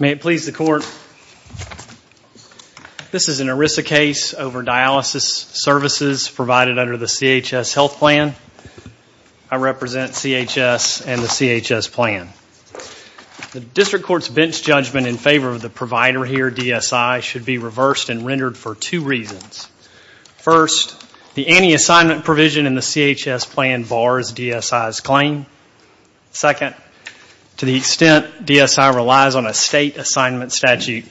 May it please the court. This is an ERISA case over dialysis services provided under the CHS health plan. I represent CHS and the CHS plan. The district court's bench judgment in favor of the provider here, DSI, should be reversed and rendered for two reasons. First, the anti-assignment provision in the CHS plan bars DSI's claim. Second, to the extent DSI relies on a state assignment statute,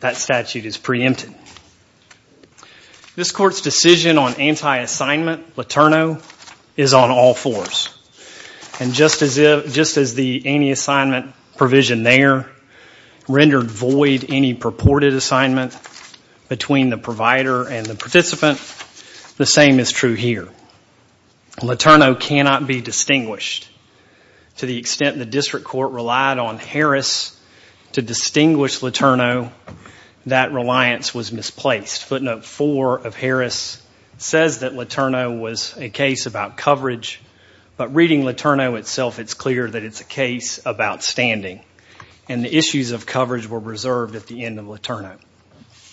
that statute is preempted. This court's decision on anti-assignment, LATERNO, is on all fours. And just as the anti-assignment provision there rendered void any purported assignment between the provider and the participant, the same is true here. LATERNO cannot be distinguished. To the extent the district court relied on Harris to distinguish LATERNO, that reliance was misplaced. Footnote 4 of Harris says that LATERNO was a case about coverage, but reading LATERNO itself, it's clear that it's a case about standing. And the issues of coverage were reserved at the end of LATERNO.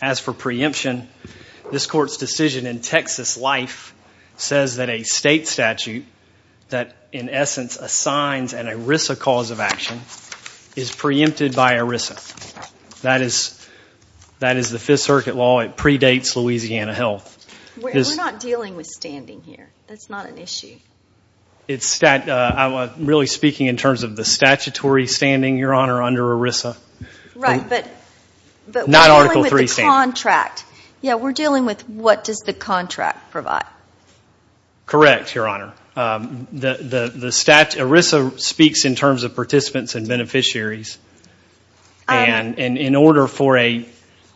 As for preemption, this court's decision in Texas Life says that a state statute that, in essence, assigns an ERISA cause of action is preempted by ERISA. That is the Fifth Circuit law. It predates Louisiana Health. We're not dealing with standing here. That's not an issue. I'm really speaking in terms of the statutory standing, Your Honor, under ERISA. Right, but we're dealing with the contract. Yeah, we're dealing with what does the contract provide. Correct, Your Honor. The statute, ERISA speaks in terms of participants and beneficiaries. And in order for a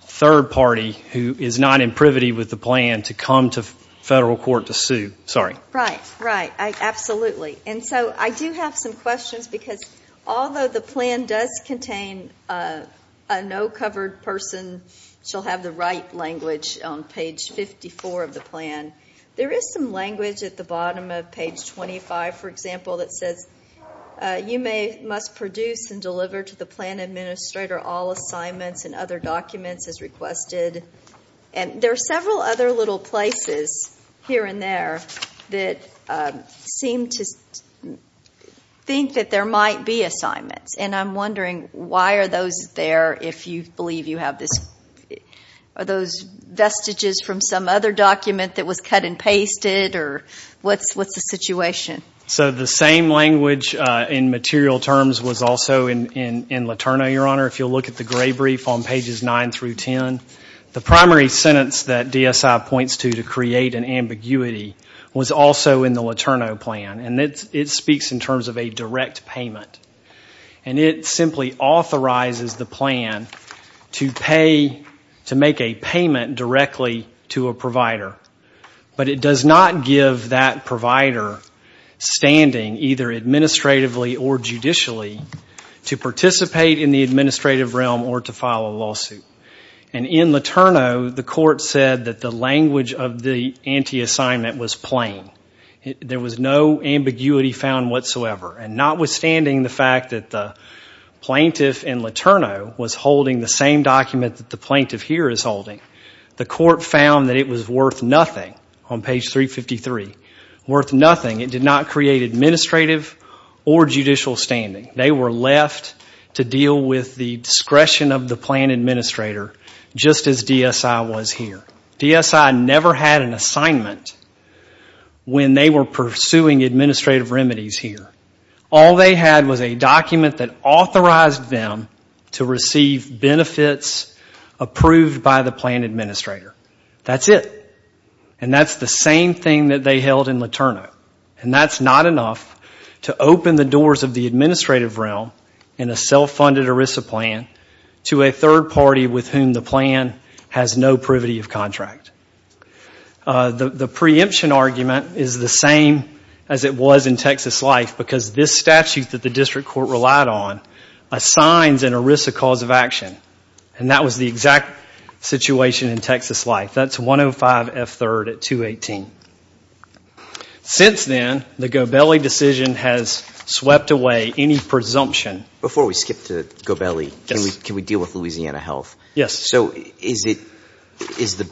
third party who is not in privity with the plan to come to federal court to sue, sorry. Right, right, absolutely. And so I do have some questions because although the plan does contain a no-covered person shall have the right language on page 54 of the plan, there is some language at the bottom of page 25, for example, that says, you must produce and deliver to the plan administrator all assignments and other documents as requested. And there are several other little places here and there that seem to think that there might be assignments. And I'm wondering why are those there if you believe you have this, are those vestiges from some other document that was cut and pasted or what's the situation? So the same language in material terms was also in LATERNO, Your Honor, if you'll look at the gray brief on pages 9 through 10. The primary sentence that DSI points to to create an ambiguity was also in the LATERNO plan. And it speaks in terms of a direct payment. And it simply authorizes the plan to pay, to make a payment directly to a provider. But it does not give that provider standing, either administratively or judicially, to participate in the administrative realm or to file a lawsuit. And in LATERNO, the court said that the language of the anti-assignment was plain. There was no ambiguity found whatsoever. And notwithstanding the fact that the plaintiff in LATERNO was holding the same document that the plaintiff here is holding, the court found that it was worth nothing on page 353, worth nothing. It did not create administrative or judicial standing. They were left to deal with the discretion of the plan administrator just as DSI was here. DSI never had an assignment when they were pursuing administrative remedies here. All they had was a document that authorized them to receive benefits approved by the plan administrator. That's it. And that's the same thing that they held in LATERNO. And that's not enough to open the doors of the administrative realm in a self-funded ERISA plan to a third party with whom the plan has no privity of contract. The preemption argument is the same as it was in Texas Life because this statute that the district court relied on assigns an ERISA cause of action. And that was the exact situation in Texas Life. That's 105 F. 3rd at 218. Since then, the Gobelli decision has Before we skip to Gobelli, can we deal with Louisiana Health? Yes. So is the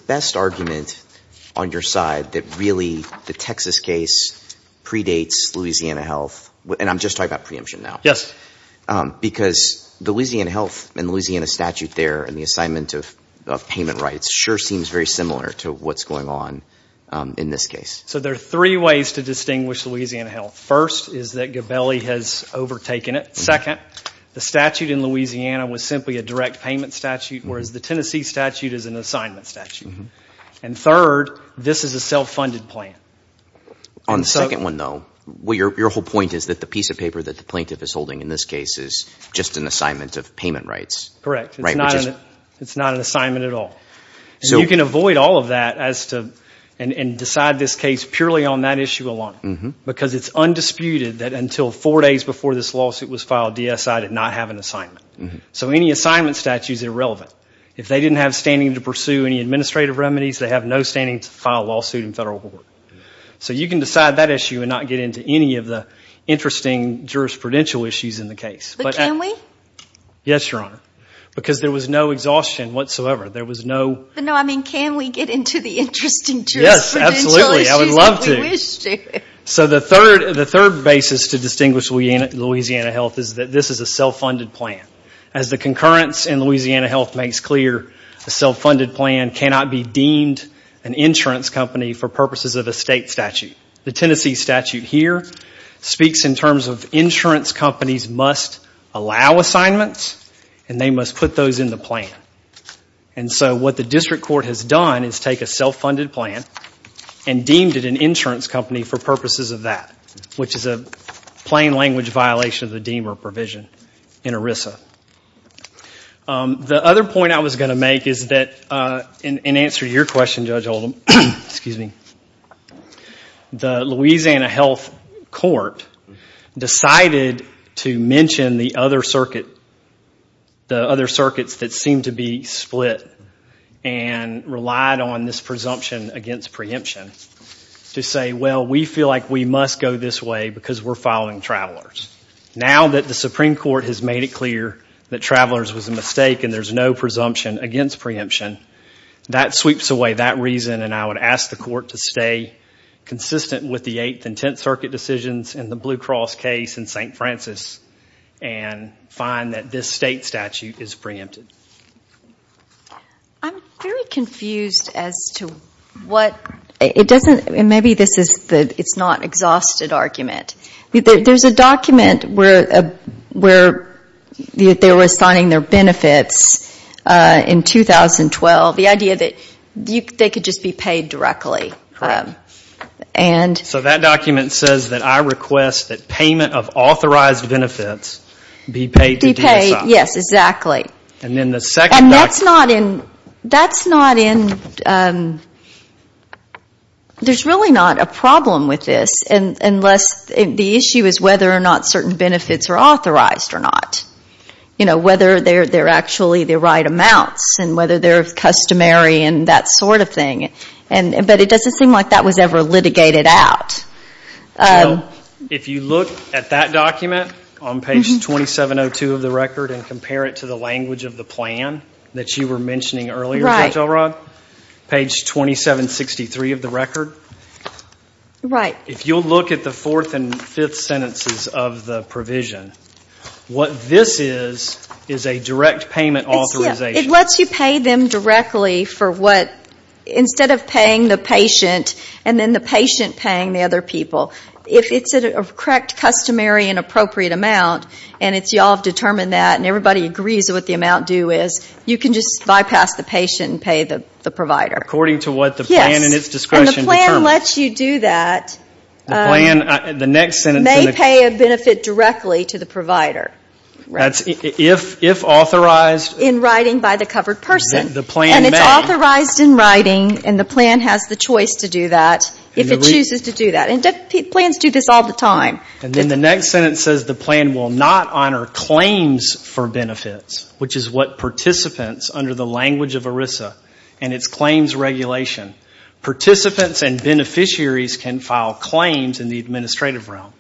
best argument on your side that really the Texas case predates Louisiana Health? And I'm just talking about preemption now. Yes. Because the Louisiana Health and Louisiana statute there and the assignment of payment rights sure seems very similar to what's going on in this case. So there are three ways to distinguish Louisiana Health. First is that Gobelli has Second, the statute in Louisiana was simply a direct payment statute, whereas the Tennessee statute is an assignment statute. And third, this is a self-funded plan. On the second one, though, your whole point is that the piece of paper that the plaintiff is holding in this case is just an assignment of payment rights. Correct. It's not an assignment at all. You can avoid all of that and decide this case purely on that issue alone. Because it's undisputed that until four days before this lawsuit was filed, DSI did not have an assignment. So any assignment statute is irrelevant. If they didn't have standing to pursue any administrative remedies, they have no standing to file a lawsuit in federal court. So you can decide that issue and not get into any of the interesting jurisprudential issues in the case. But can we? Yes, Your Honor. Because there was no exhaustion whatsoever. There was no... I would love to. So the third basis to distinguish Louisiana Health is that this is a self-funded plan. As the concurrence in Louisiana Health makes clear, a self-funded plan cannot be deemed an insurance company for purposes of a state statute. The Tennessee statute here speaks in terms of insurance companies must allow assignments and they must put those in the plan. And so what the district court has done is take a self-funded plan and deemed it an insurance company for purposes of that, which is a plain language violation of the deemer provision in ERISA. The other point I was going to make is that in answer to your question, Judge Oldham, excuse me, the Louisiana Health court decided to mention the other circuit, the other circuits that seem to be split and relied on this presumption against preemption to say, well, we feel like we must go this way because we're following travelers. Now that the Supreme Court has made it clear that travelers was a mistake and there's no reason, and I would ask the court to stay consistent with the Eighth and Tenth Circuit decisions and the Blue Cross case in St. Francis and find that this state statute is preempted. I'm very confused as to what, it doesn't, maybe this is the, it's not exhausted argument. There's a document where they were assigning their benefits in 2012. The idea that they could just be paid directly. So that document says that I request that payment of authorized benefits be paid to DSI. Yes, exactly. There's really not a problem with this unless the issue is whether or not certain benefits are authorized or not. Whether they're actually the right amounts and whether they're customary and that sort of thing. But it doesn't seem like that was ever litigated out. If you look at that document on page 2702 of the record and compare it to the language of the plan that you were mentioning earlier Judge Elrod, page 2763 of the record. If you'll look at the fourth and fifth sentences of the provision, what this is, is a direct payment authorization. It lets you pay them directly for what, instead of paying the patient and then the patient paying the other people. If it's a correct customary and appropriate amount and it's, y'all have determined that and everybody agrees what the amount due is, you can just bypass the patient and pay the provider. According to what the plan and its discretion determines. And the plan lets you do that. The plan, the next sentence. May pay a benefit directly to the provider. That's if authorized. In writing by the covered person. The plan may. And it's authorized in writing and the plan has the choice to do that if it chooses to do that. And plans do this all the time. And then the next sentence says the plan will not honor claims for benefits, which is what participants under the language of ERISA and its claims regulation. Participants and beneficiaries can file claims in the administrative realm.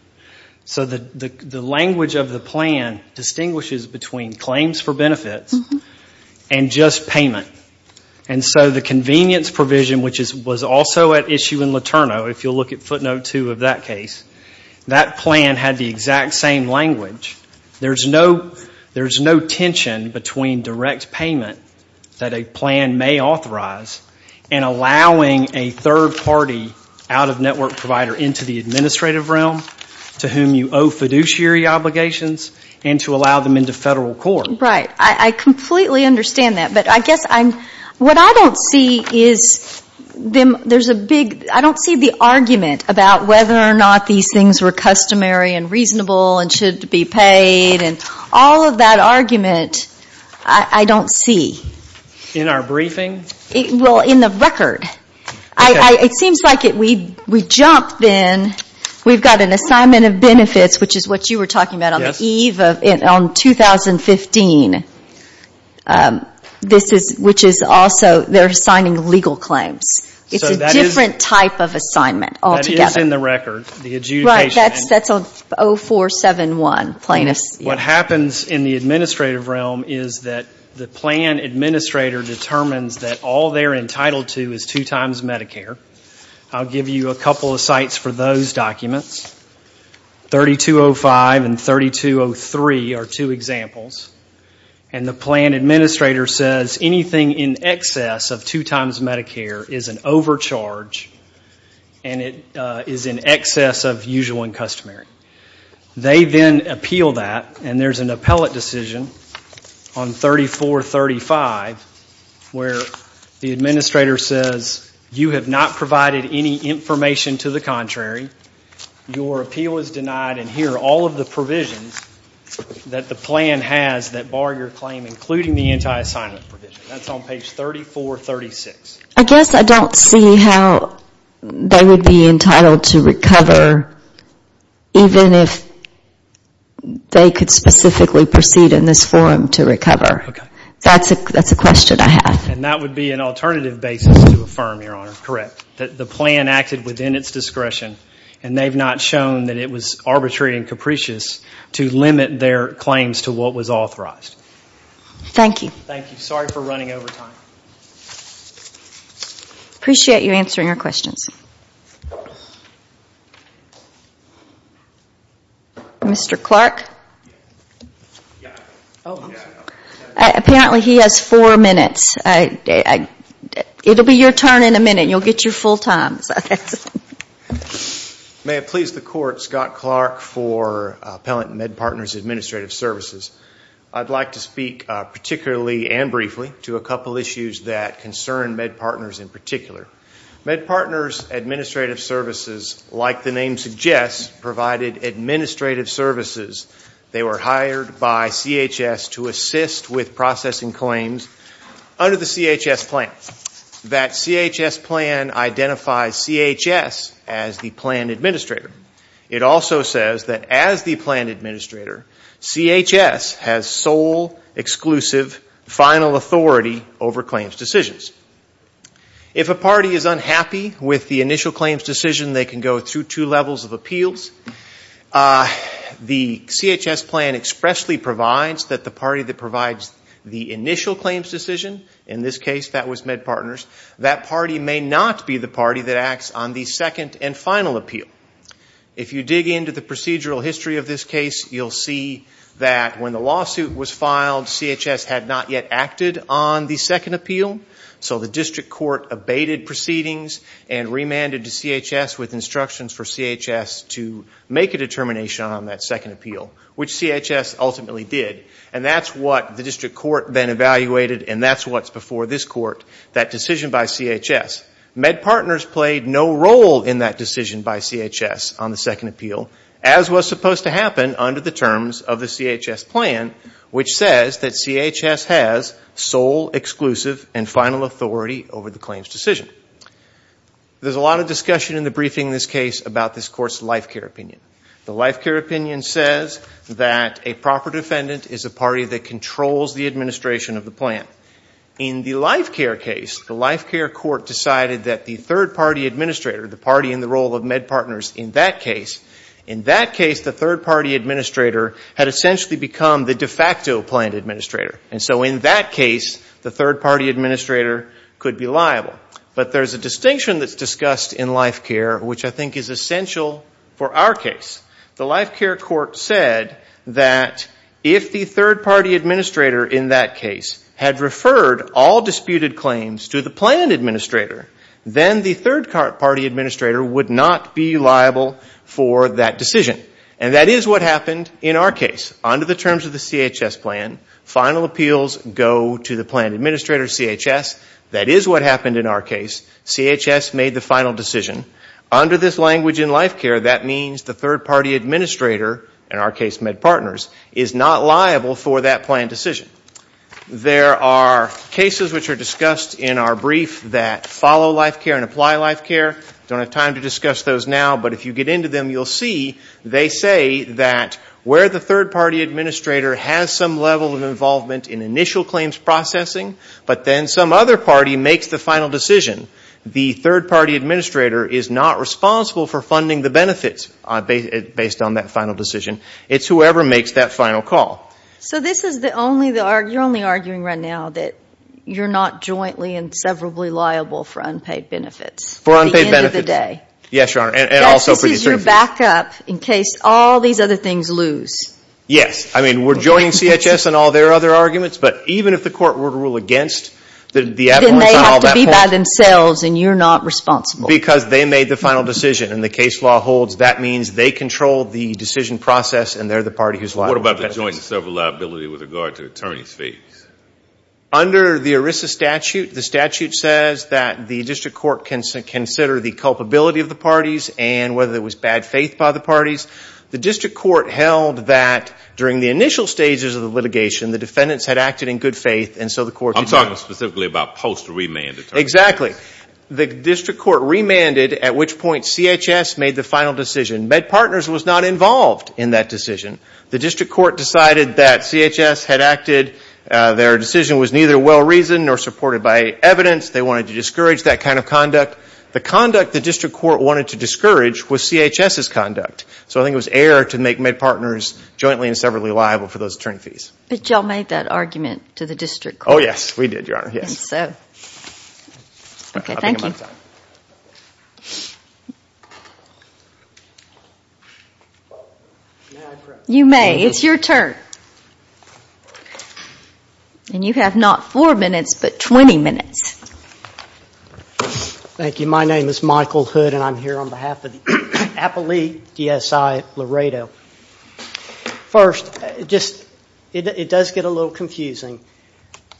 So the language of the plan distinguishes between claims for benefits and just payment. And so the convenience provision, which was also at issue in LATERNO, if you'll look at footnote two of that case, that plan had the exact same language. There's no tension between direct payment that a plan may authorize and allowing a third party out of network provider into the administrative realm to whom you owe fiduciary obligations and to allow them into federal court. Right. I completely understand that. But I guess what I don't see is there's a big, I don't see the argument about whether or not these things were customary and reasonable and should be paid. And all of that argument, I don't see. In our briefing? Well, in the record. Okay. It seems like we jumped then. We've got an assignment of benefits, which is what you were talking about on the eve of, on 2015, which is also, they're assigning legal claims. It's a different type of assignment altogether. That is in the record, the adjudication. Right. That's 0471, plaintiffs. What happens in the administrative realm is that the plan administrator determines that all they're entitled to is two times Medicare. I'll give you a couple of sites for those documents. 3205 and 3203 are two examples. And the plan administrator says anything in excess of two times Medicare is an overcharge and it is in excess of usual and customary. They then appeal that and there's an appellate decision on 3435 where the administrator says you have not provided any information to the contrary. Your appeal is denied and here are all of the provisions that the plan has that bar your claim, including the anti-assignment provision. That's on page 3436. I guess I don't see how they would be entitled to recover even if they could specifically proceed in this form to recover. That's a question I have. And that would be an alternative basis to affirm, Your Honor. Correct. The plan acted within its discretion and they've not shown that it was arbitrary and capricious to limit their claims to what was authorized. Thank you. Thank you. Sorry for running over time. Appreciate you answering our questions. Mr. Clark? Yeah. Yeah. Oh. Yeah. Okay. Apparently he has four minutes. It'll be your turn in a minute. You'll get your full time. May it please the Court, Scott Clark for Appellant MedPartners Administrative Services. I'd like to speak particularly and briefly to a couple issues that concern MedPartners in particular. MedPartners Administrative Services, like the name suggests, provided administrative services. They were hired by CHS to assist with processing claims under the CHS plan. That CHS plan identifies CHS as the plan administrator. It also says that as the plan administrator, CHS has sole, exclusive, final authority over claims decisions. If a party is unhappy with the initial claims decision, they can go through two levels of appeals. The CHS plan expressly provides that the party that provides the initial claims decision, in this case that was MedPartners, that party may not be the party that acts on the second and final appeal. If you dig into the procedural history of this case, you'll see that when the lawsuit was filed, CHS had not yet acted on the second appeal. So the district court abated proceedings and remanded to CHS with instructions for CHS to make a determination on that second appeal, which CHS ultimately did. And that's what the district court then evaluated, and that's what's before this court, that decision by CHS. MedPartners played no role in that decision by CHS on the second appeal, as was supposed to happen under the terms of the CHS plan, which says that CHS has sole, exclusive, and final authority over the claims decision. There's a lot of discussion in the briefing in this case about this court's life care opinion. The life care opinion says that a proper defendant is a party that controls the administration of the plan. In the life care case, the life care court decided that the third party administrator, the party in the role of MedPartners in that case, in that case, the third party administrator had essentially become the de facto plan administrator. And so in that case, the third party administrator could be liable. But there's a distinction that's discussed in life care, which I think is essential for our case. The life care court said that if the third party administrator in that case had referred all disputed claims to the plan administrator, then the third party administrator would not be liable for that decision. And that is what happened in our case. Under the terms of the CHS plan, final appeals go to the plan administrator, CHS. That is what happened in our case. CHS made the final decision. Under this language in life care, that means the third party administrator, in our case MedPartners, is not liable for that plan decision. There are cases which are discussed in our brief that follow life care and apply life care. I don't have time to discuss those now, but if you get into them, you'll see they say that where the third party administrator has some level of involvement in initial claims processing, but then some other party makes the final decision. The third party administrator is not responsible for funding the benefits based on that final decision. It's whoever makes that final call. So this is the only, you're only arguing right now that you're not jointly and severably liable for unpaid benefits. For unpaid benefits. At the end of the day. Yes, Your Honor, and also for these three. This is your backup in case all these other things lose. Yes, I mean, we're joining CHS in all their other arguments, but even if the court were to rule against. Then they have to be by themselves, and you're not responsible. Because they made the final decision, and the case law holds that means they control the decision process, and they're the party who's liable. What about the joint and sever liability with regard to attorney's fees? Under the ERISA statute, the statute says that the district court can consider the culpability of the parties, and whether it was bad faith by the parties. The district court held that during the initial stages of the litigation, the defendants had acted in good faith, and so the court. I'm talking specifically about post remand attorney fees. Exactly. The district court remanded at which point CHS made the final decision. MedPartners was not involved in that decision. The district court decided that CHS had acted. Their decision was neither well reasoned nor supported by evidence. They wanted to discourage that kind of conduct. The conduct the district court wanted to discourage was CHS's conduct. So I think it was error to make MedPartners jointly and severably liable for those attorney fees. But y'all made that argument to the district court. Oh, yes, we did, Your Honor. Yes. Okay, thank you. You may. It's your turn. And you have not four minutes, but 20 minutes. Thank you. My name is Michael Hood, and I'm here on behalf of the Appalachian DSI Laredo. First, just, it does get a little confusing.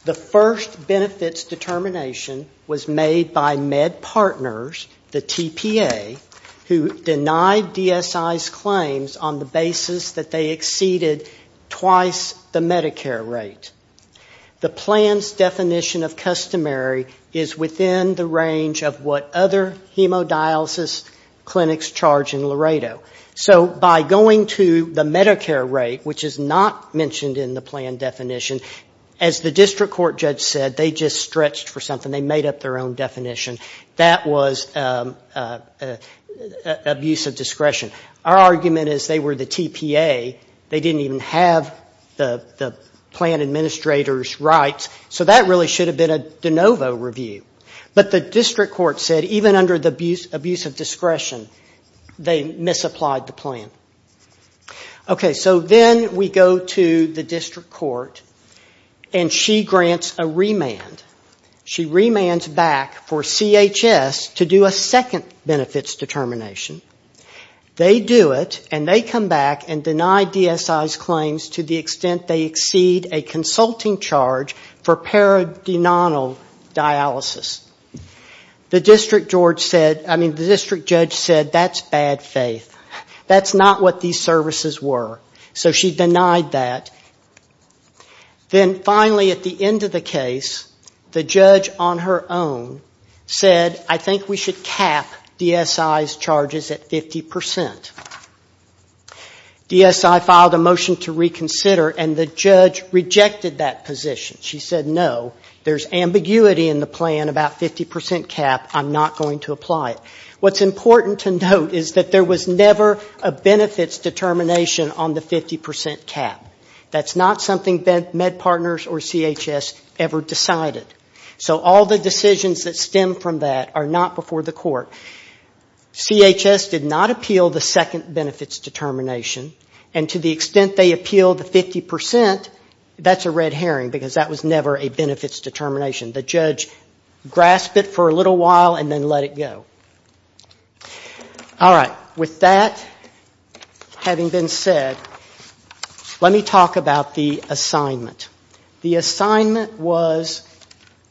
The first benefits determination was made by MedPartners, the TPA, who denied DSI's claims on the basis that they exceeded twice the Medicare rate. The plan's definition of customary is within the range of what other hemodialysis clinics charge in Laredo. So by going to the Medicare rate, which is not mentioned in the plan definition, as the district court judge said, they just stretched for something. They made up their own definition. That was abuse of discretion. Our argument is they were the TPA. They didn't even have the plan administrator's rights. So that really should have been a de novo review. But the district court said, even under the abuse of discretion, they misapplied the plan. Okay. So then we go to the district court, and she grants a remand. She remands back for CHS to do a second benefits determination. They do it, and they come back and deny DSI's claims to the extent they exceed a consulting charge for paradenal dialysis. The district judge said, that's bad faith. That's not what these services were. So she denied that. Then finally, at the end of the case, the judge on her own said, I think we should cap DSI's charges at 50%. DSI filed a motion to reconsider, and the judge rejected that position. She said, no, there's ambiguity in the plan about 50% cap. I'm not going to apply it. What's important to note is that there was never a benefits determination on the 50% cap. That's not something MedPartners or CHS ever decided. So all the decisions that stem from that are not before the court. CHS did not appeal the second benefits determination, and to the extent they appealed the 50%, that's a red herring, because that was never a benefits determination. The judge grasped it for a little while and then let it go. All right. With that having been said, let me talk about the assignment. The assignment was,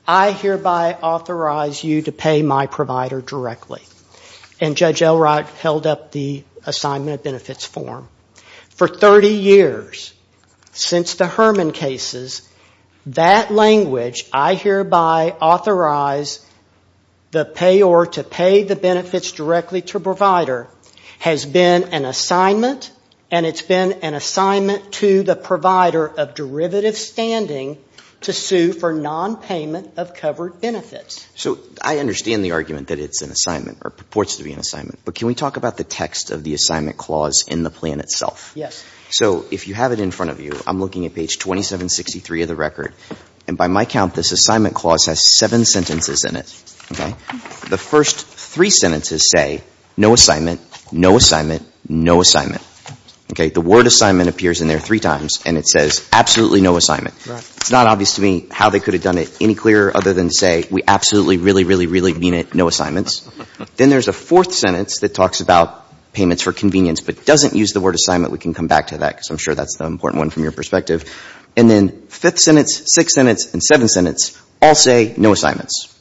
I hereby authorize you to pay my provider directly. And Judge Elrod held up the assignment of benefits form. For 30 years, since the Herman cases, that language, I hereby authorize the payor to pay the benefits directly to provider, has been an assignment, and it's been an assignment to the provider of derivative standing to sue for nonpayment of covered benefits. So I understand the argument that it's an assignment or purports to be an assignment, but can we talk about the text of the assignment clause in the plan itself? Yes. So if you have it in front of you, I'm looking at page 2763 of the record, and by my count, this assignment clause has seven sentences in it, okay? The first three sentences say, no assignment, no assignment, no assignment, okay? The word assignment appears in there three times, and it says, absolutely no assignment. It's not obvious to me how they could have done it any clearer other than say, we absolutely really, really, really mean it, no assignments. Then there's a fourth sentence that talks about payments for convenience, but doesn't use the word assignment. We can come back to that because I'm sure that's the important one from your perspective. And then fifth sentence, sixth sentence, and seventh sentence all say, no assignments.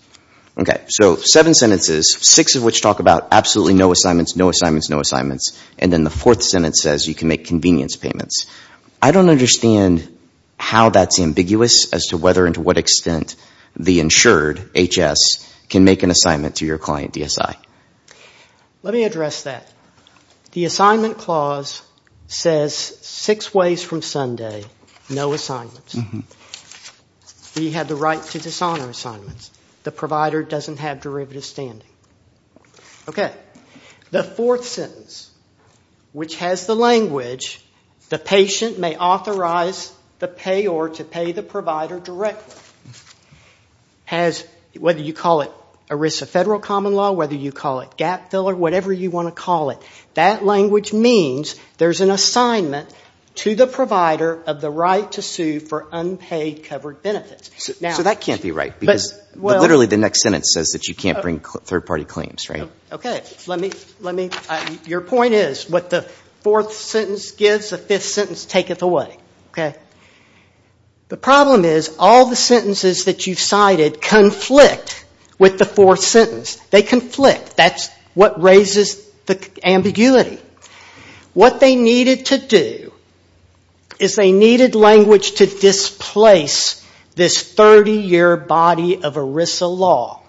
Okay. So seven sentences, six of which talk about absolutely no assignments, no assignments, and then the fourth sentence says you can make convenience payments. I don't understand how that's ambiguous as to whether and to what extent the insured, HS, can make an assignment to your client, DSI. Let me address that. The assignment clause says six ways from Sunday, no assignments. We have the right to dishonor assignments. The provider doesn't have derivative standing. Okay. The fourth sentence, which has the language, the patient may authorize the payor to pay the provider directly, has, whether you call it a risk of federal common law, whether you call it gap filler, whatever you want to call it, that language means there's an assignment to the provider of the right to sue for unpaid covered benefits. So that can't be right because literally the next sentence says you can't bring third party claims, right? Okay. Let me, let me, your point is what the fourth sentence gives, the fifth sentence taketh away. Okay. The problem is all the sentences that you've cited conflict with the fourth sentence. They conflict. That's what raises the ambiguity. What they needed to do is they needed language to displace this 30-year body of ERISA law.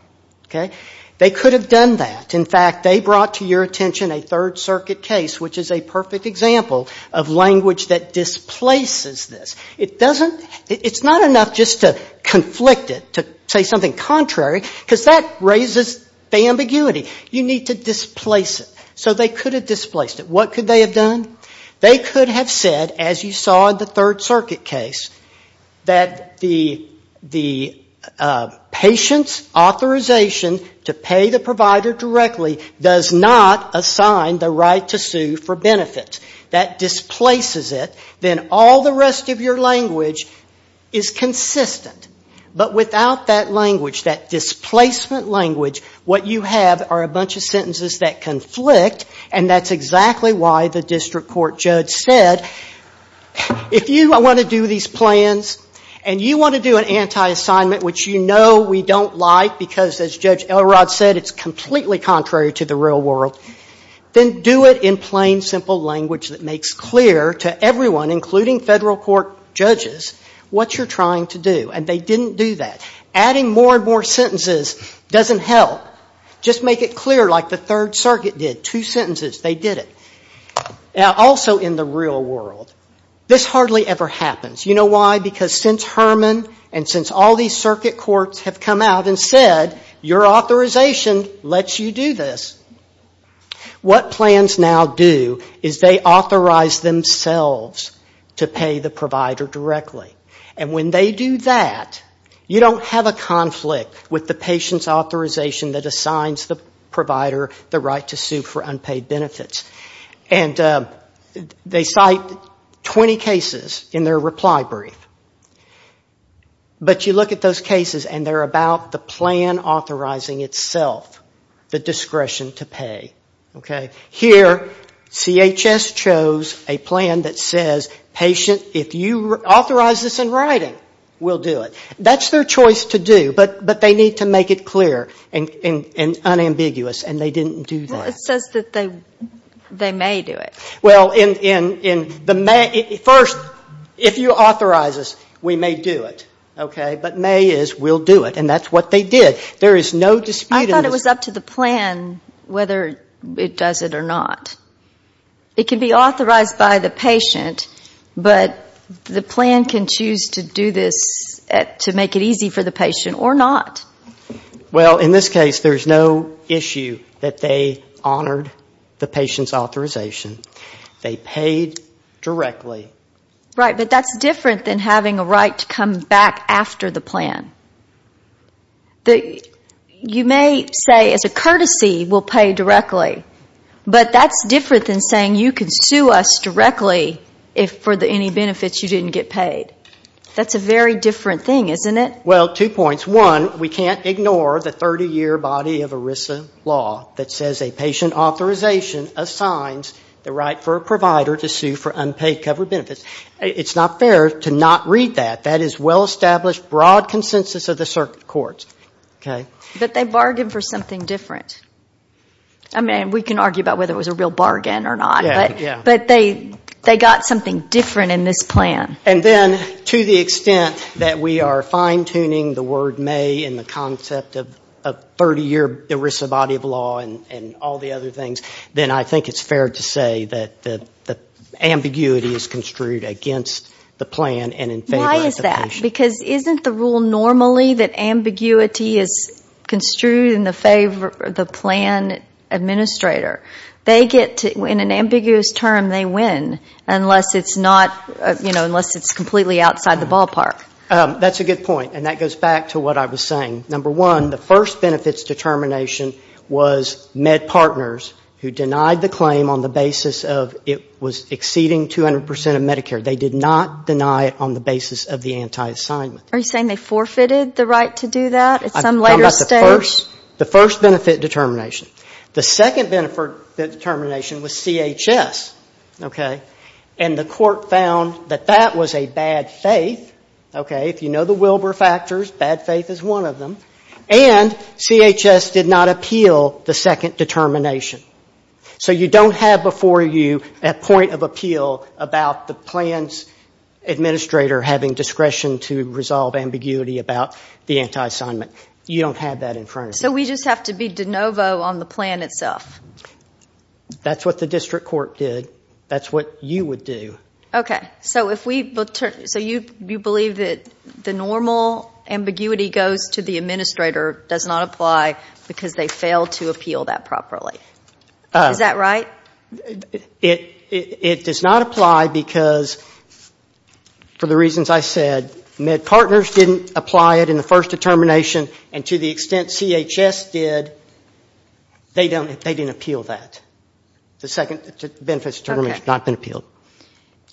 Okay. They could have done that. In fact, they brought to your attention a Third Circuit case, which is a perfect example of language that displaces this. It doesn't, it's not enough just to conflict it, to say something contrary, because that raises the ambiguity. You need to displace it. So they could have displaced it. What could they have done? They could have said, as you saw in the Third Circuit case, that the patient's authorization to pay the provider directly does not assign the right to sue for benefits. That displaces it. Then all the rest of your language is consistent. But without that language, that displacement language, what you have are a bunch of sentences that conflict, and that's exactly why the district court judge said, if you want to do these plans and you want to do an anti-assignment, which you know we don't like because, as Judge Elrod said, it's completely contrary to the real world, then do it in plain, simple language that makes clear to everyone, including federal court judges, what you're trying to do. And they didn't do that. Adding more and more sentences doesn't help. Just make it clear like the Third Circuit did. Two sentences. They did it. Now, also in the real world, this hardly ever happens. You know why? Because since Herman and since all these circuit courts have come out and said, your authorization lets you do this, what plans now do is they authorize themselves to pay the provider directly. And when they do that, you don't have a conflict with the patient's authorization that assigns the provider the right to sue for unpaid benefits. And they cite 20 cases in their reply brief. But you look at those cases and they're about the plan authorizing itself, the discretion to pay. Here, CHS chose a plan that says, patient, if you authorize this in writing, we'll do it. That's their choice to do, but they need to make it clear and unambiguous. And they didn't do that. It says that they may do it. Well, first, if you authorize us, we may do it. Okay. But may is we'll do it. And that's what they did. There is no dispute. I thought it was up to the plan whether it does it or not. It can be authorized by the patient, but the plan can choose to do this to make it easy for the patient or not. Well, in this case, there's no issue that they honored the patient's authorization. They paid directly. Right. But that's different than having a right to come back after the plan. You may say as a courtesy, we'll pay directly. But that's different than saying you can sue us directly if for any benefits you didn't get paid. Well, two points. One, we can't ignore the 30-year body of ERISA law that says a patient authorization assigns the right for a provider to sue for unpaid covered benefits. It's not fair to not read that. That is well-established, broad consensus of the circuit courts. Okay. But they bargained for something different. I mean, we can argue about whether it was a real bargain or not. Yeah, yeah. But they got something different in this plan. And then to the extent that we are fine-tuning the word may in the concept of 30-year ERISA body of law and all the other things, then I think it's fair to say that the ambiguity is construed against the plan and in favor of the patient. Why is that? Because isn't the rule normally that ambiguity is construed in favor of the plan administrator? They get to, in an ambiguous term, they win unless it's completely outside the ballpark. That's a good point. And that goes back to what I was saying. Number one, the first benefits determination was med partners who denied the claim on the basis of it was exceeding 200% of Medicare. They did not deny it on the basis of the anti-assignment. Are you saying they forfeited the right to do that at some later stage? The first benefit determination. The second benefit determination was CHS. And the court found that that was a bad faith. If you know the Wilbur factors, bad faith is one of them. And CHS did not appeal the second determination. So you don't have before you a point of appeal about the plan's administrator having discretion to resolve ambiguity about the anti-assignment. You don't have that in front of you. So we just have to be de novo on the plan itself? That's what the district court did. That's what you would do. Okay. So you believe that the normal ambiguity goes to the administrator does not apply because they failed to appeal that properly. Is that right? It does not apply because, for the reasons I said, med partners didn't apply it in the extent CHS did, they didn't appeal that. The second benefit determination has not been appealed.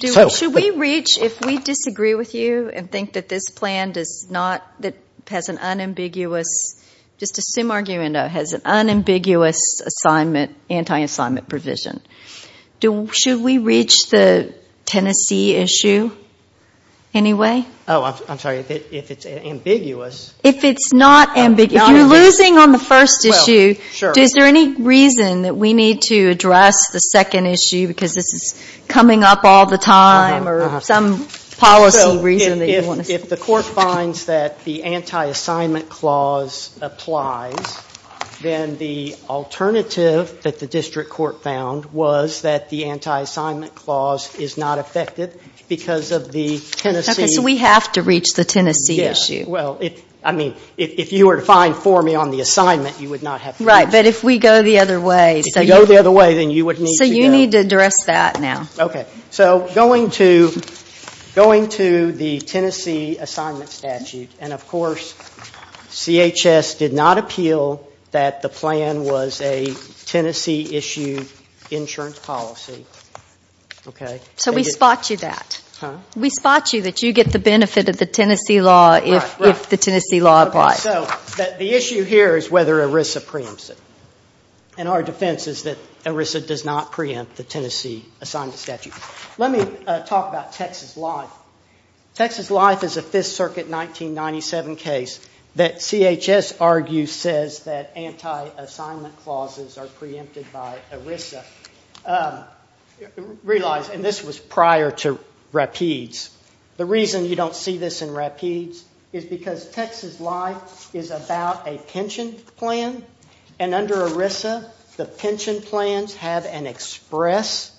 Should we reach, if we disagree with you and think that this plan does not, that has an unambiguous, just assume argument has an unambiguous anti-assignment provision, should we reach the Tennessee issue anyway? Oh, I'm sorry. If it's ambiguous. If it's not ambiguous, if you're losing on the first issue, is there any reason that we need to address the second issue because this is coming up all the time or some policy reason that you want to say? If the court finds that the anti-assignment clause applies, then the alternative that the district court found was that the anti-assignment clause is not affected because of the Tennessee. Okay. So we have to reach the Tennessee issue. I mean, if you were to find for me on the assignment, you would not have to. Right. But if we go the other way. If we go the other way, then you would need to go. So you need to address that now. Okay. So going to the Tennessee assignment statute, and of course, CHS did not appeal that the plan was a Tennessee issue insurance policy. Okay. So we spot you that. We spot you that you get the benefit of the Tennessee law if the Tennessee law applies. So the issue here is whether ERISA preempts it. And our defense is that ERISA does not preempt the Tennessee assignment statute. Let me talk about Texas Life. Texas Life is a Fifth Circuit 1997 case that CHS argues says that anti-assignment clauses are preempted by ERISA. I realize, and this was prior to Rapides, the reason you don't see this in Rapides is because Texas Life is about a pension plan, and under ERISA, the pension plans have an express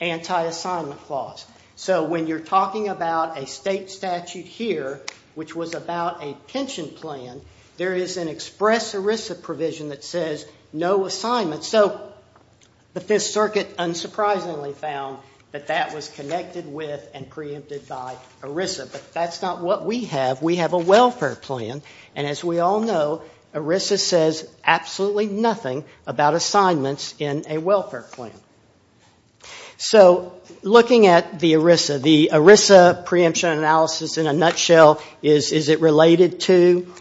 anti-assignment clause. So when you're talking about a state statute here, which was about a pension plan, there is an express ERISA provision that says no assignment. So the Fifth Circuit unsurprisingly found that that was connected with and preempted by ERISA, but that's not what we have. We have a welfare plan, and as we all know, ERISA says absolutely nothing about assignments in a welfare plan. So looking at the ERISA, the ERISA preemption analysis in a nutshell, is it related to?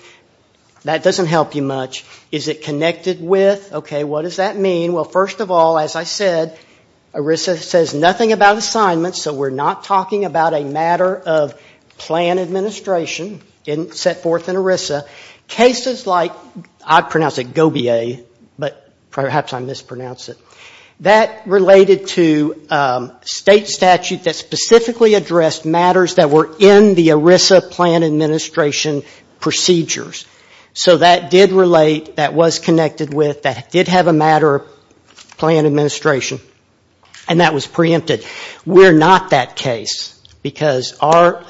That doesn't help you much. Is it connected with? What does that mean? Well, first of all, as I said, ERISA says nothing about assignments, so we're not talking about a matter of plan administration set forth in ERISA. Cases like, I pronounce it GO-B-A, but perhaps I mispronounce it, that related to a state statute that specifically addressed matters that were in the ERISA plan administration procedures. So that did relate, that was connected with, that did have a matter of plan administration, and that was preempted. We're not that case because our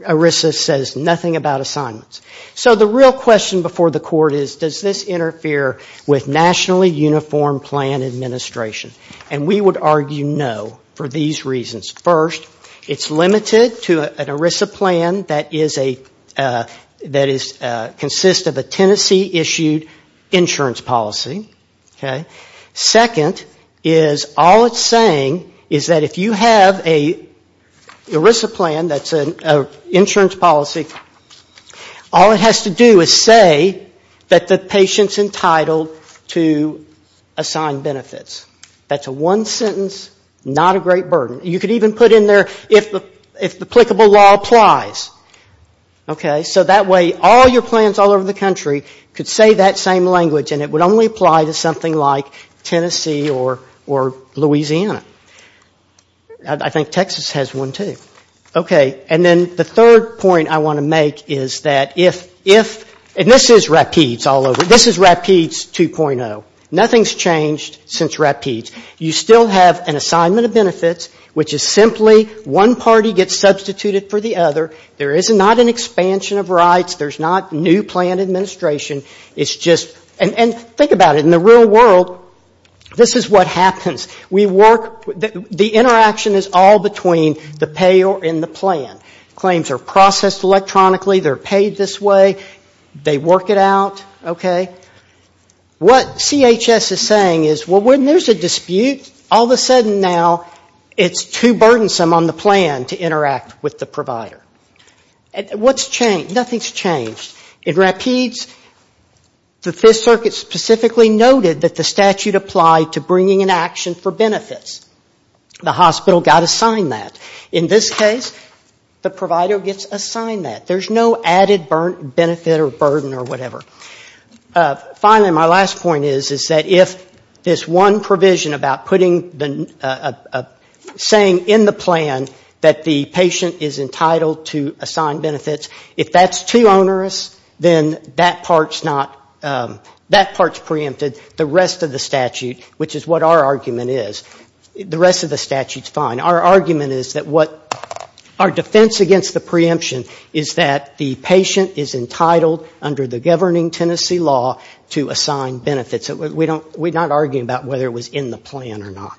ERISA says nothing about assignments. So the real question before the Court is, does this interfere with nationally uniform plan administration? And we would argue no for these reasons. First, it's limited to an ERISA plan that consists of a Tennessee-issued insurance policy. Second, all it's saying is that if you have an ERISA plan that's an insurance policy, all it has to do is say that the patient's entitled to assign benefits. That's a one sentence, not a great burden. You could even put in there, if applicable law applies. Okay? So that way all your plans all over the country could say that same language and it would only apply to something like Tennessee or Louisiana. I think Texas has one too. Okay. And then the third point I want to make is that if, and this is RAPIDS all over, this is RAPIDS 2.0. Nothing's changed since RAPIDS. You still have an assignment of benefits, which is simply one party gets substituted for the other. There is not an expansion of rights. There's not new plan administration. It's just, and think about it. In the real world, this is what happens. We work, the interaction is all between the payer and the plan. Claims are processed electronically. They're paid this way. They work it out. Okay? What CHS is saying is, well, when there's a dispute, all of a sudden now it's too burdensome on the plan to interact with the provider. What's changed? Nothing's changed. In RAPIDS, the Fifth Circuit specifically noted that the statute applied to bringing an action for benefits. The hospital got assigned that. In this case, the provider gets assigned that. There's no added benefit or burden or whatever. Finally, my last point is, is that if this one provision about putting the, saying in the plan that the patient is entitled to assign benefits, if that's too onerous, then that part's not, that part's preempted. The rest of the statute, which is what our argument is, the rest of the statute's fine. Our argument is that what, our defense against the preemption is that the patient is entitled under the governing Tennessee law to assign benefits. We don't, we're not arguing about whether it was in the plan or not.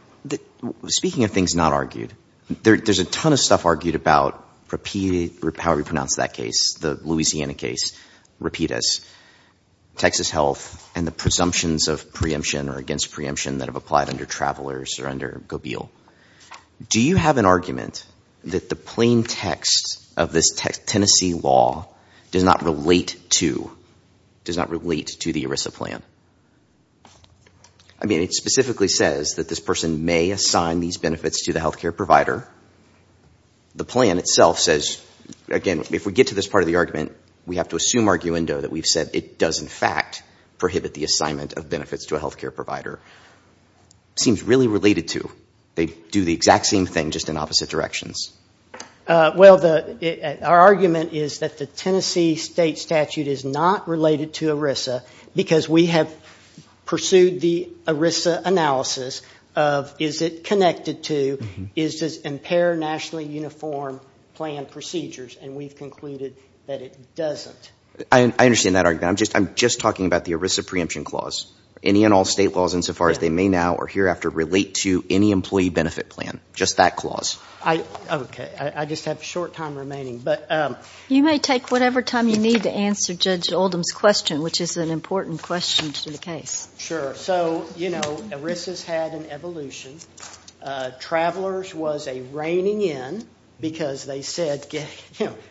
Speaking of things not argued, there's a ton of stuff argued about how we pronounce that case, the Louisiana case, RAPIDS, Texas Health, and the presumptions of preemption or against preemption that have applied under Travelers or under Gobeil. Do you have an argument that the plain text of this Tennessee law does not relate to, does not relate to the ERISA plan? I mean, it specifically says that this person may assign these benefits to the healthcare provider. The plan itself says, again, if we get to this part of the argument, we have to assume arguendo that we've said it does in fact prohibit the assignment of benefits to a healthcare provider. It seems really related to, they do the exact same thing, just in opposite directions. Well, our argument is that the Tennessee state statute is not related to ERISA because we have pursued the ERISA analysis of, is it connected to, is this impair nationally uniform plan procedures? And we've concluded that it doesn't. I understand that argument. I'm just talking about the ERISA preemption clause. Any and all state laws insofar as they may now or hereafter relate to any employee benefit plan, just that clause. Okay. I just have a short time remaining. You may take whatever time you need to answer Judge Oldham's question, which is an important question to the case. Sure. So ERISA's had an evolution. Travelers was a reigning in because they said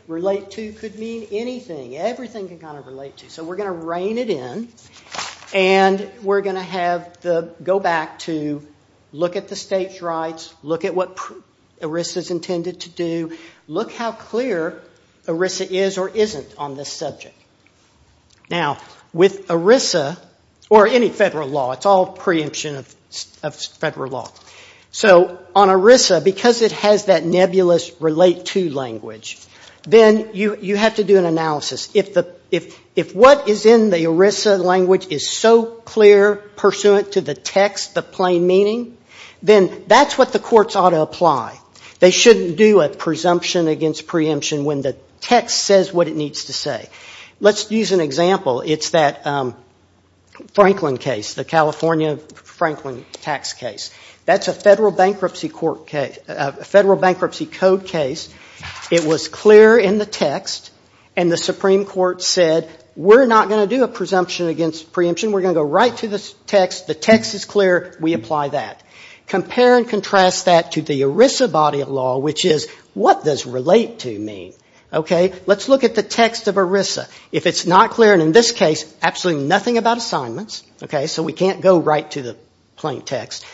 relate to could mean anything. Everything can kind of relate to. We're going to rein it in and we're going to go back to look at the state's rights, look at what ERISA's intended to do, look how clear ERISA is or isn't on this subject. Now, with ERISA or any federal law, it's all preemption of federal law. So on ERISA, because it has that nebulous relate to language, then you have to do an analysis. If what is in the ERISA language is so clear pursuant to the text, the plain meaning, then that's what the courts ought to apply. They shouldn't do a presumption against preemption when the text says what it needs to say. Let's use an example. It's that Franklin case, the California Franklin tax case. That's a Federal Bankruptcy Code case. It was clear in the text and the Supreme Court said we're not going to do a presumption against preemption. We're going to go right to the text. The text is clear. We apply that. Compare and contrast that to the ERISA body of law, which is what does relate to mean? Let's look at the text of ERISA. If it's not clear, and in this case, absolutely nothing about assignments, so we can't go right to the plain text.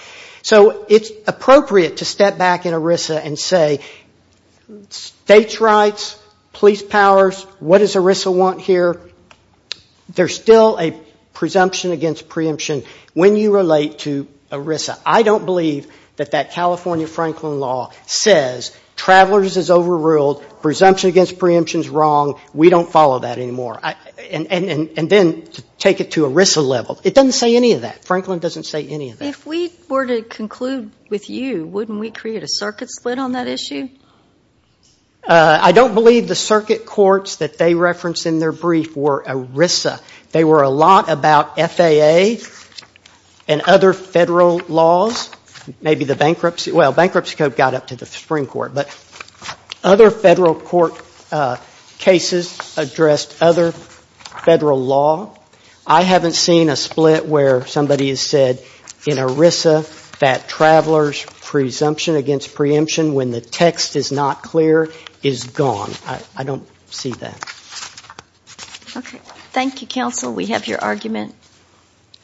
So it's appropriate to step back in ERISA and say states' rights, police powers, what does ERISA want here? There's still a presumption against preemption when you relate to ERISA. I don't believe that that California Franklin law says travelers is overruled, presumption against preemption is wrong. We don't follow that anymore, and then take it to ERISA level. It doesn't say any of that. Franklin doesn't say any of that. If we were to conclude with you, wouldn't we create a circuit split on that issue? I don't believe the circuit courts that they referenced in their brief were ERISA. They were a lot about FAA and other federal laws, maybe the bankruptcy. Well, bankruptcy code got up to the Supreme Court, but other federal court cases addressed other federal law. I haven't seen a split where somebody has said in ERISA that travelers' presumption against preemption when the text is not clear is gone. I don't see that. Okay. Thank you, counsel. We have your argument.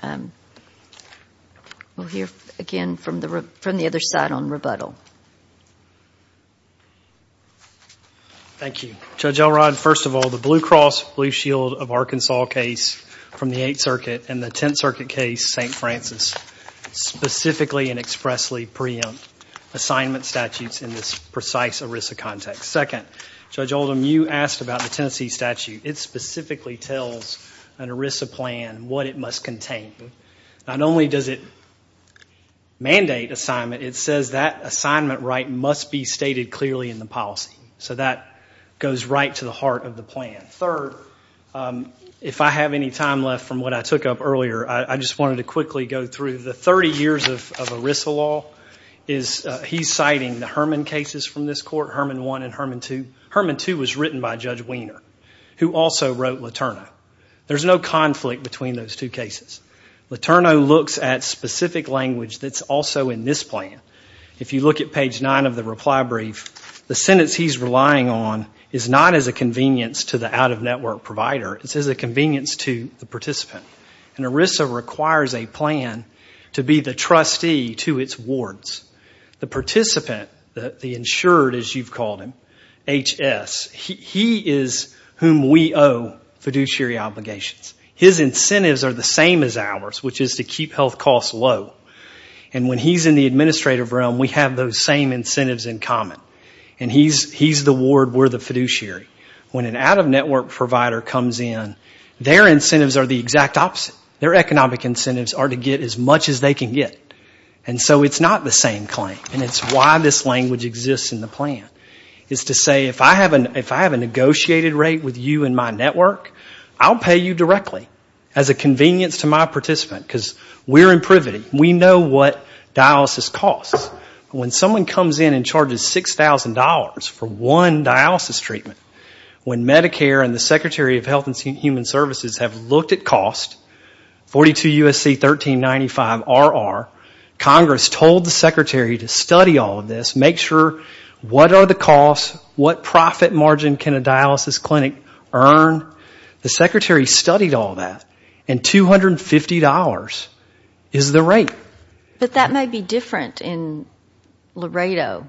We'll hear again from the other side on rebuttal. Thank you. Judge Elrod, first of all, the Blue Cross Blue Shield of Arkansas case from the Eighth Circuit and the Tenth Circuit case, St. Francis, specifically and expressly preempt assignment statutes in this precise ERISA context. Second, Judge Oldham, you asked about the Tennessee statute. It specifically tells an ERISA plan what it must contain. Not only does it mandate assignment, it says that assignment right must be stated clearly in the policy. So that goes right to the heart of the plan. Third, if I have any time left from what I took up earlier, I just wanted to quickly go through the 30 years of ERISA law. He's citing the Herman cases from this court, Herman 1 and Herman 2. Herman 2 was written by Judge Wiener, who also wrote Letourneau. There's no conflict between those two cases. Letourneau looks at specific language that's also in this plan. If you look at page 9 of the reply brief, the sentence he's relying on is not as a convenience to the out-of-network provider, it's as a convenience to the participant. And ERISA requires a plan to be the trustee to its wards. The participant, the insured as you've called him, HS, he is whom we owe fiduciary obligations. His incentives are the same as ours, which is to keep health costs low. And when he's in the administrative realm, we have those same incentives in common. And he's the ward, we're the fiduciary. When an out-of-network provider comes in, their incentives are the exact opposite. Their economic incentives are to get as much as they can get. And so it's not the same claim. And it's why this language exists in the plan, is to say, if I have a negotiated rate with you in my network, I'll pay you directly as a convenience to my participant, because we're in privity. We know what dialysis costs. When someone comes in and charges $6,000 for one dialysis treatment, when Medicare and the Secretary of Health and Human Services have looked at cost, 42 U.S.C. 1395 RR, Congress told the Secretary to study all of this, make sure what are the costs, what profit margin can a dialysis clinic earn? The Secretary studied all that. And $250 is the rate. But that may be different in Laredo.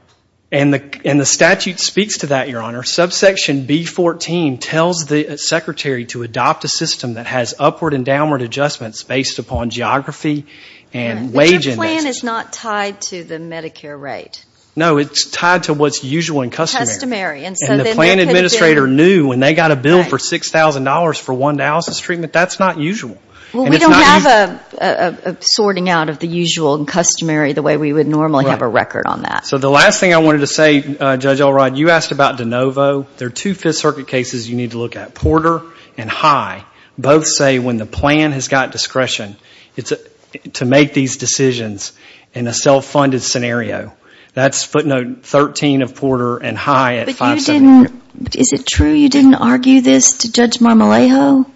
And the statute speaks to that, Your Honor. Subsection B14 tells the Secretary to adopt a system that has upward and downward adjustments based upon geography and wage index. But your plan is not tied to the Medicare rate. No, it's tied to what's usual and customary. Customary. And the plan administrator knew when they got a bill for $6,000 for one dialysis treatment, that's not usual. Well, we don't have a sorting out of the usual and customary the way we would normally have a record on that. So the last thing I wanted to say, Judge Alrod, you asked about DeNovo. There are two Fifth Circuit cases you need to look at, Porter and High. Both say when the plan has got discretion to make these decisions in a self-funded scenario. That's footnote 13 of Porter and High. But you didn't, is it true you didn't argue this to Judge Marmolejo?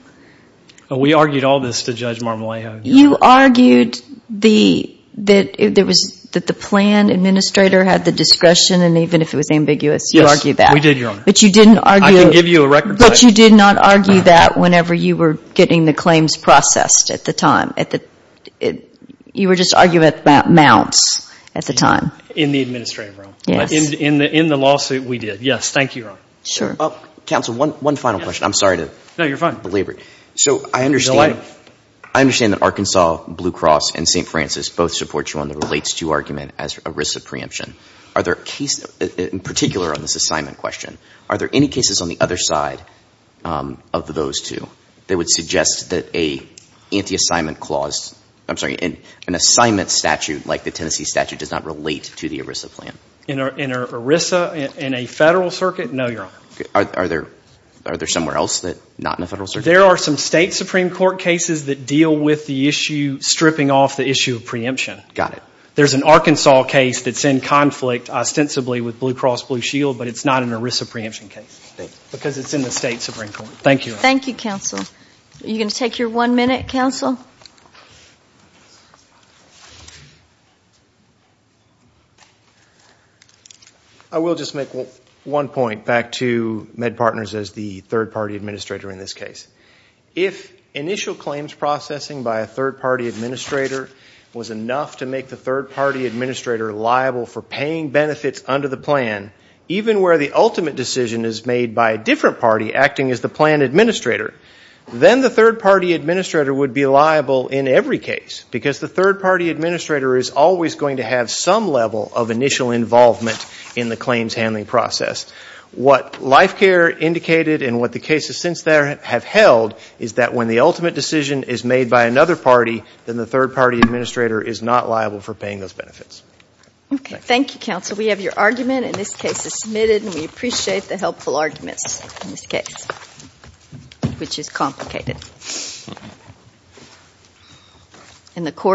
We argued all this to Judge Marmolejo. You argued that the plan administrator had the discretion and even if it was ambiguous, you argued that. We did, Your Honor. But you didn't argue. I can give you a record plate. But you did not argue that whenever you were getting the claims processed at the time. You were just arguing about amounts at the time. In the administrative room. Yes. In the lawsuit, we did. Yes, thank you, Your Honor. Sure. Counsel, one final question. I'm sorry to belabor it. So I understand that Arkansas, Blue Cross, and St. Francis both support you on the relates to argument as a risk of preemption. Are there cases, in particular on this assignment question, are there any cases on the other side of those two that would suggest that an assignment statute like the Tennessee does not relate to the ERISA plan? In ERISA, in a federal circuit? No, Your Honor. Are there somewhere else that are not in a federal circuit? There are some state Supreme Court cases that deal with the issue stripping off the issue of preemption. Got it. There's an Arkansas case that's in conflict ostensibly with Blue Cross Blue Shield, but it's not an ERISA preemption case because it's in the state Supreme Court. Thank you. Thank you, Counsel. Are you going to take your one minute, Counsel? I will just make one point back to MedPartners as the third-party administrator in this case. If initial claims processing by a third-party administrator was enough to make the third-party administrator liable for paying benefits under the plan, even where the ultimate decision is made by a different party acting as the plan administrator, then the third-party administrator would be liable in every case because the third-party administrator is always going to have some level of initial involvement in the claims handling process. What LifeCare indicated and what the cases since then have held is that when the ultimate decision is made by another party, then the third-party administrator is not liable for paying those benefits. Okay. Thank you, Counsel. We have your argument in this case submitted, and we appreciate the helpful arguments in this case, which is complicated. And the court.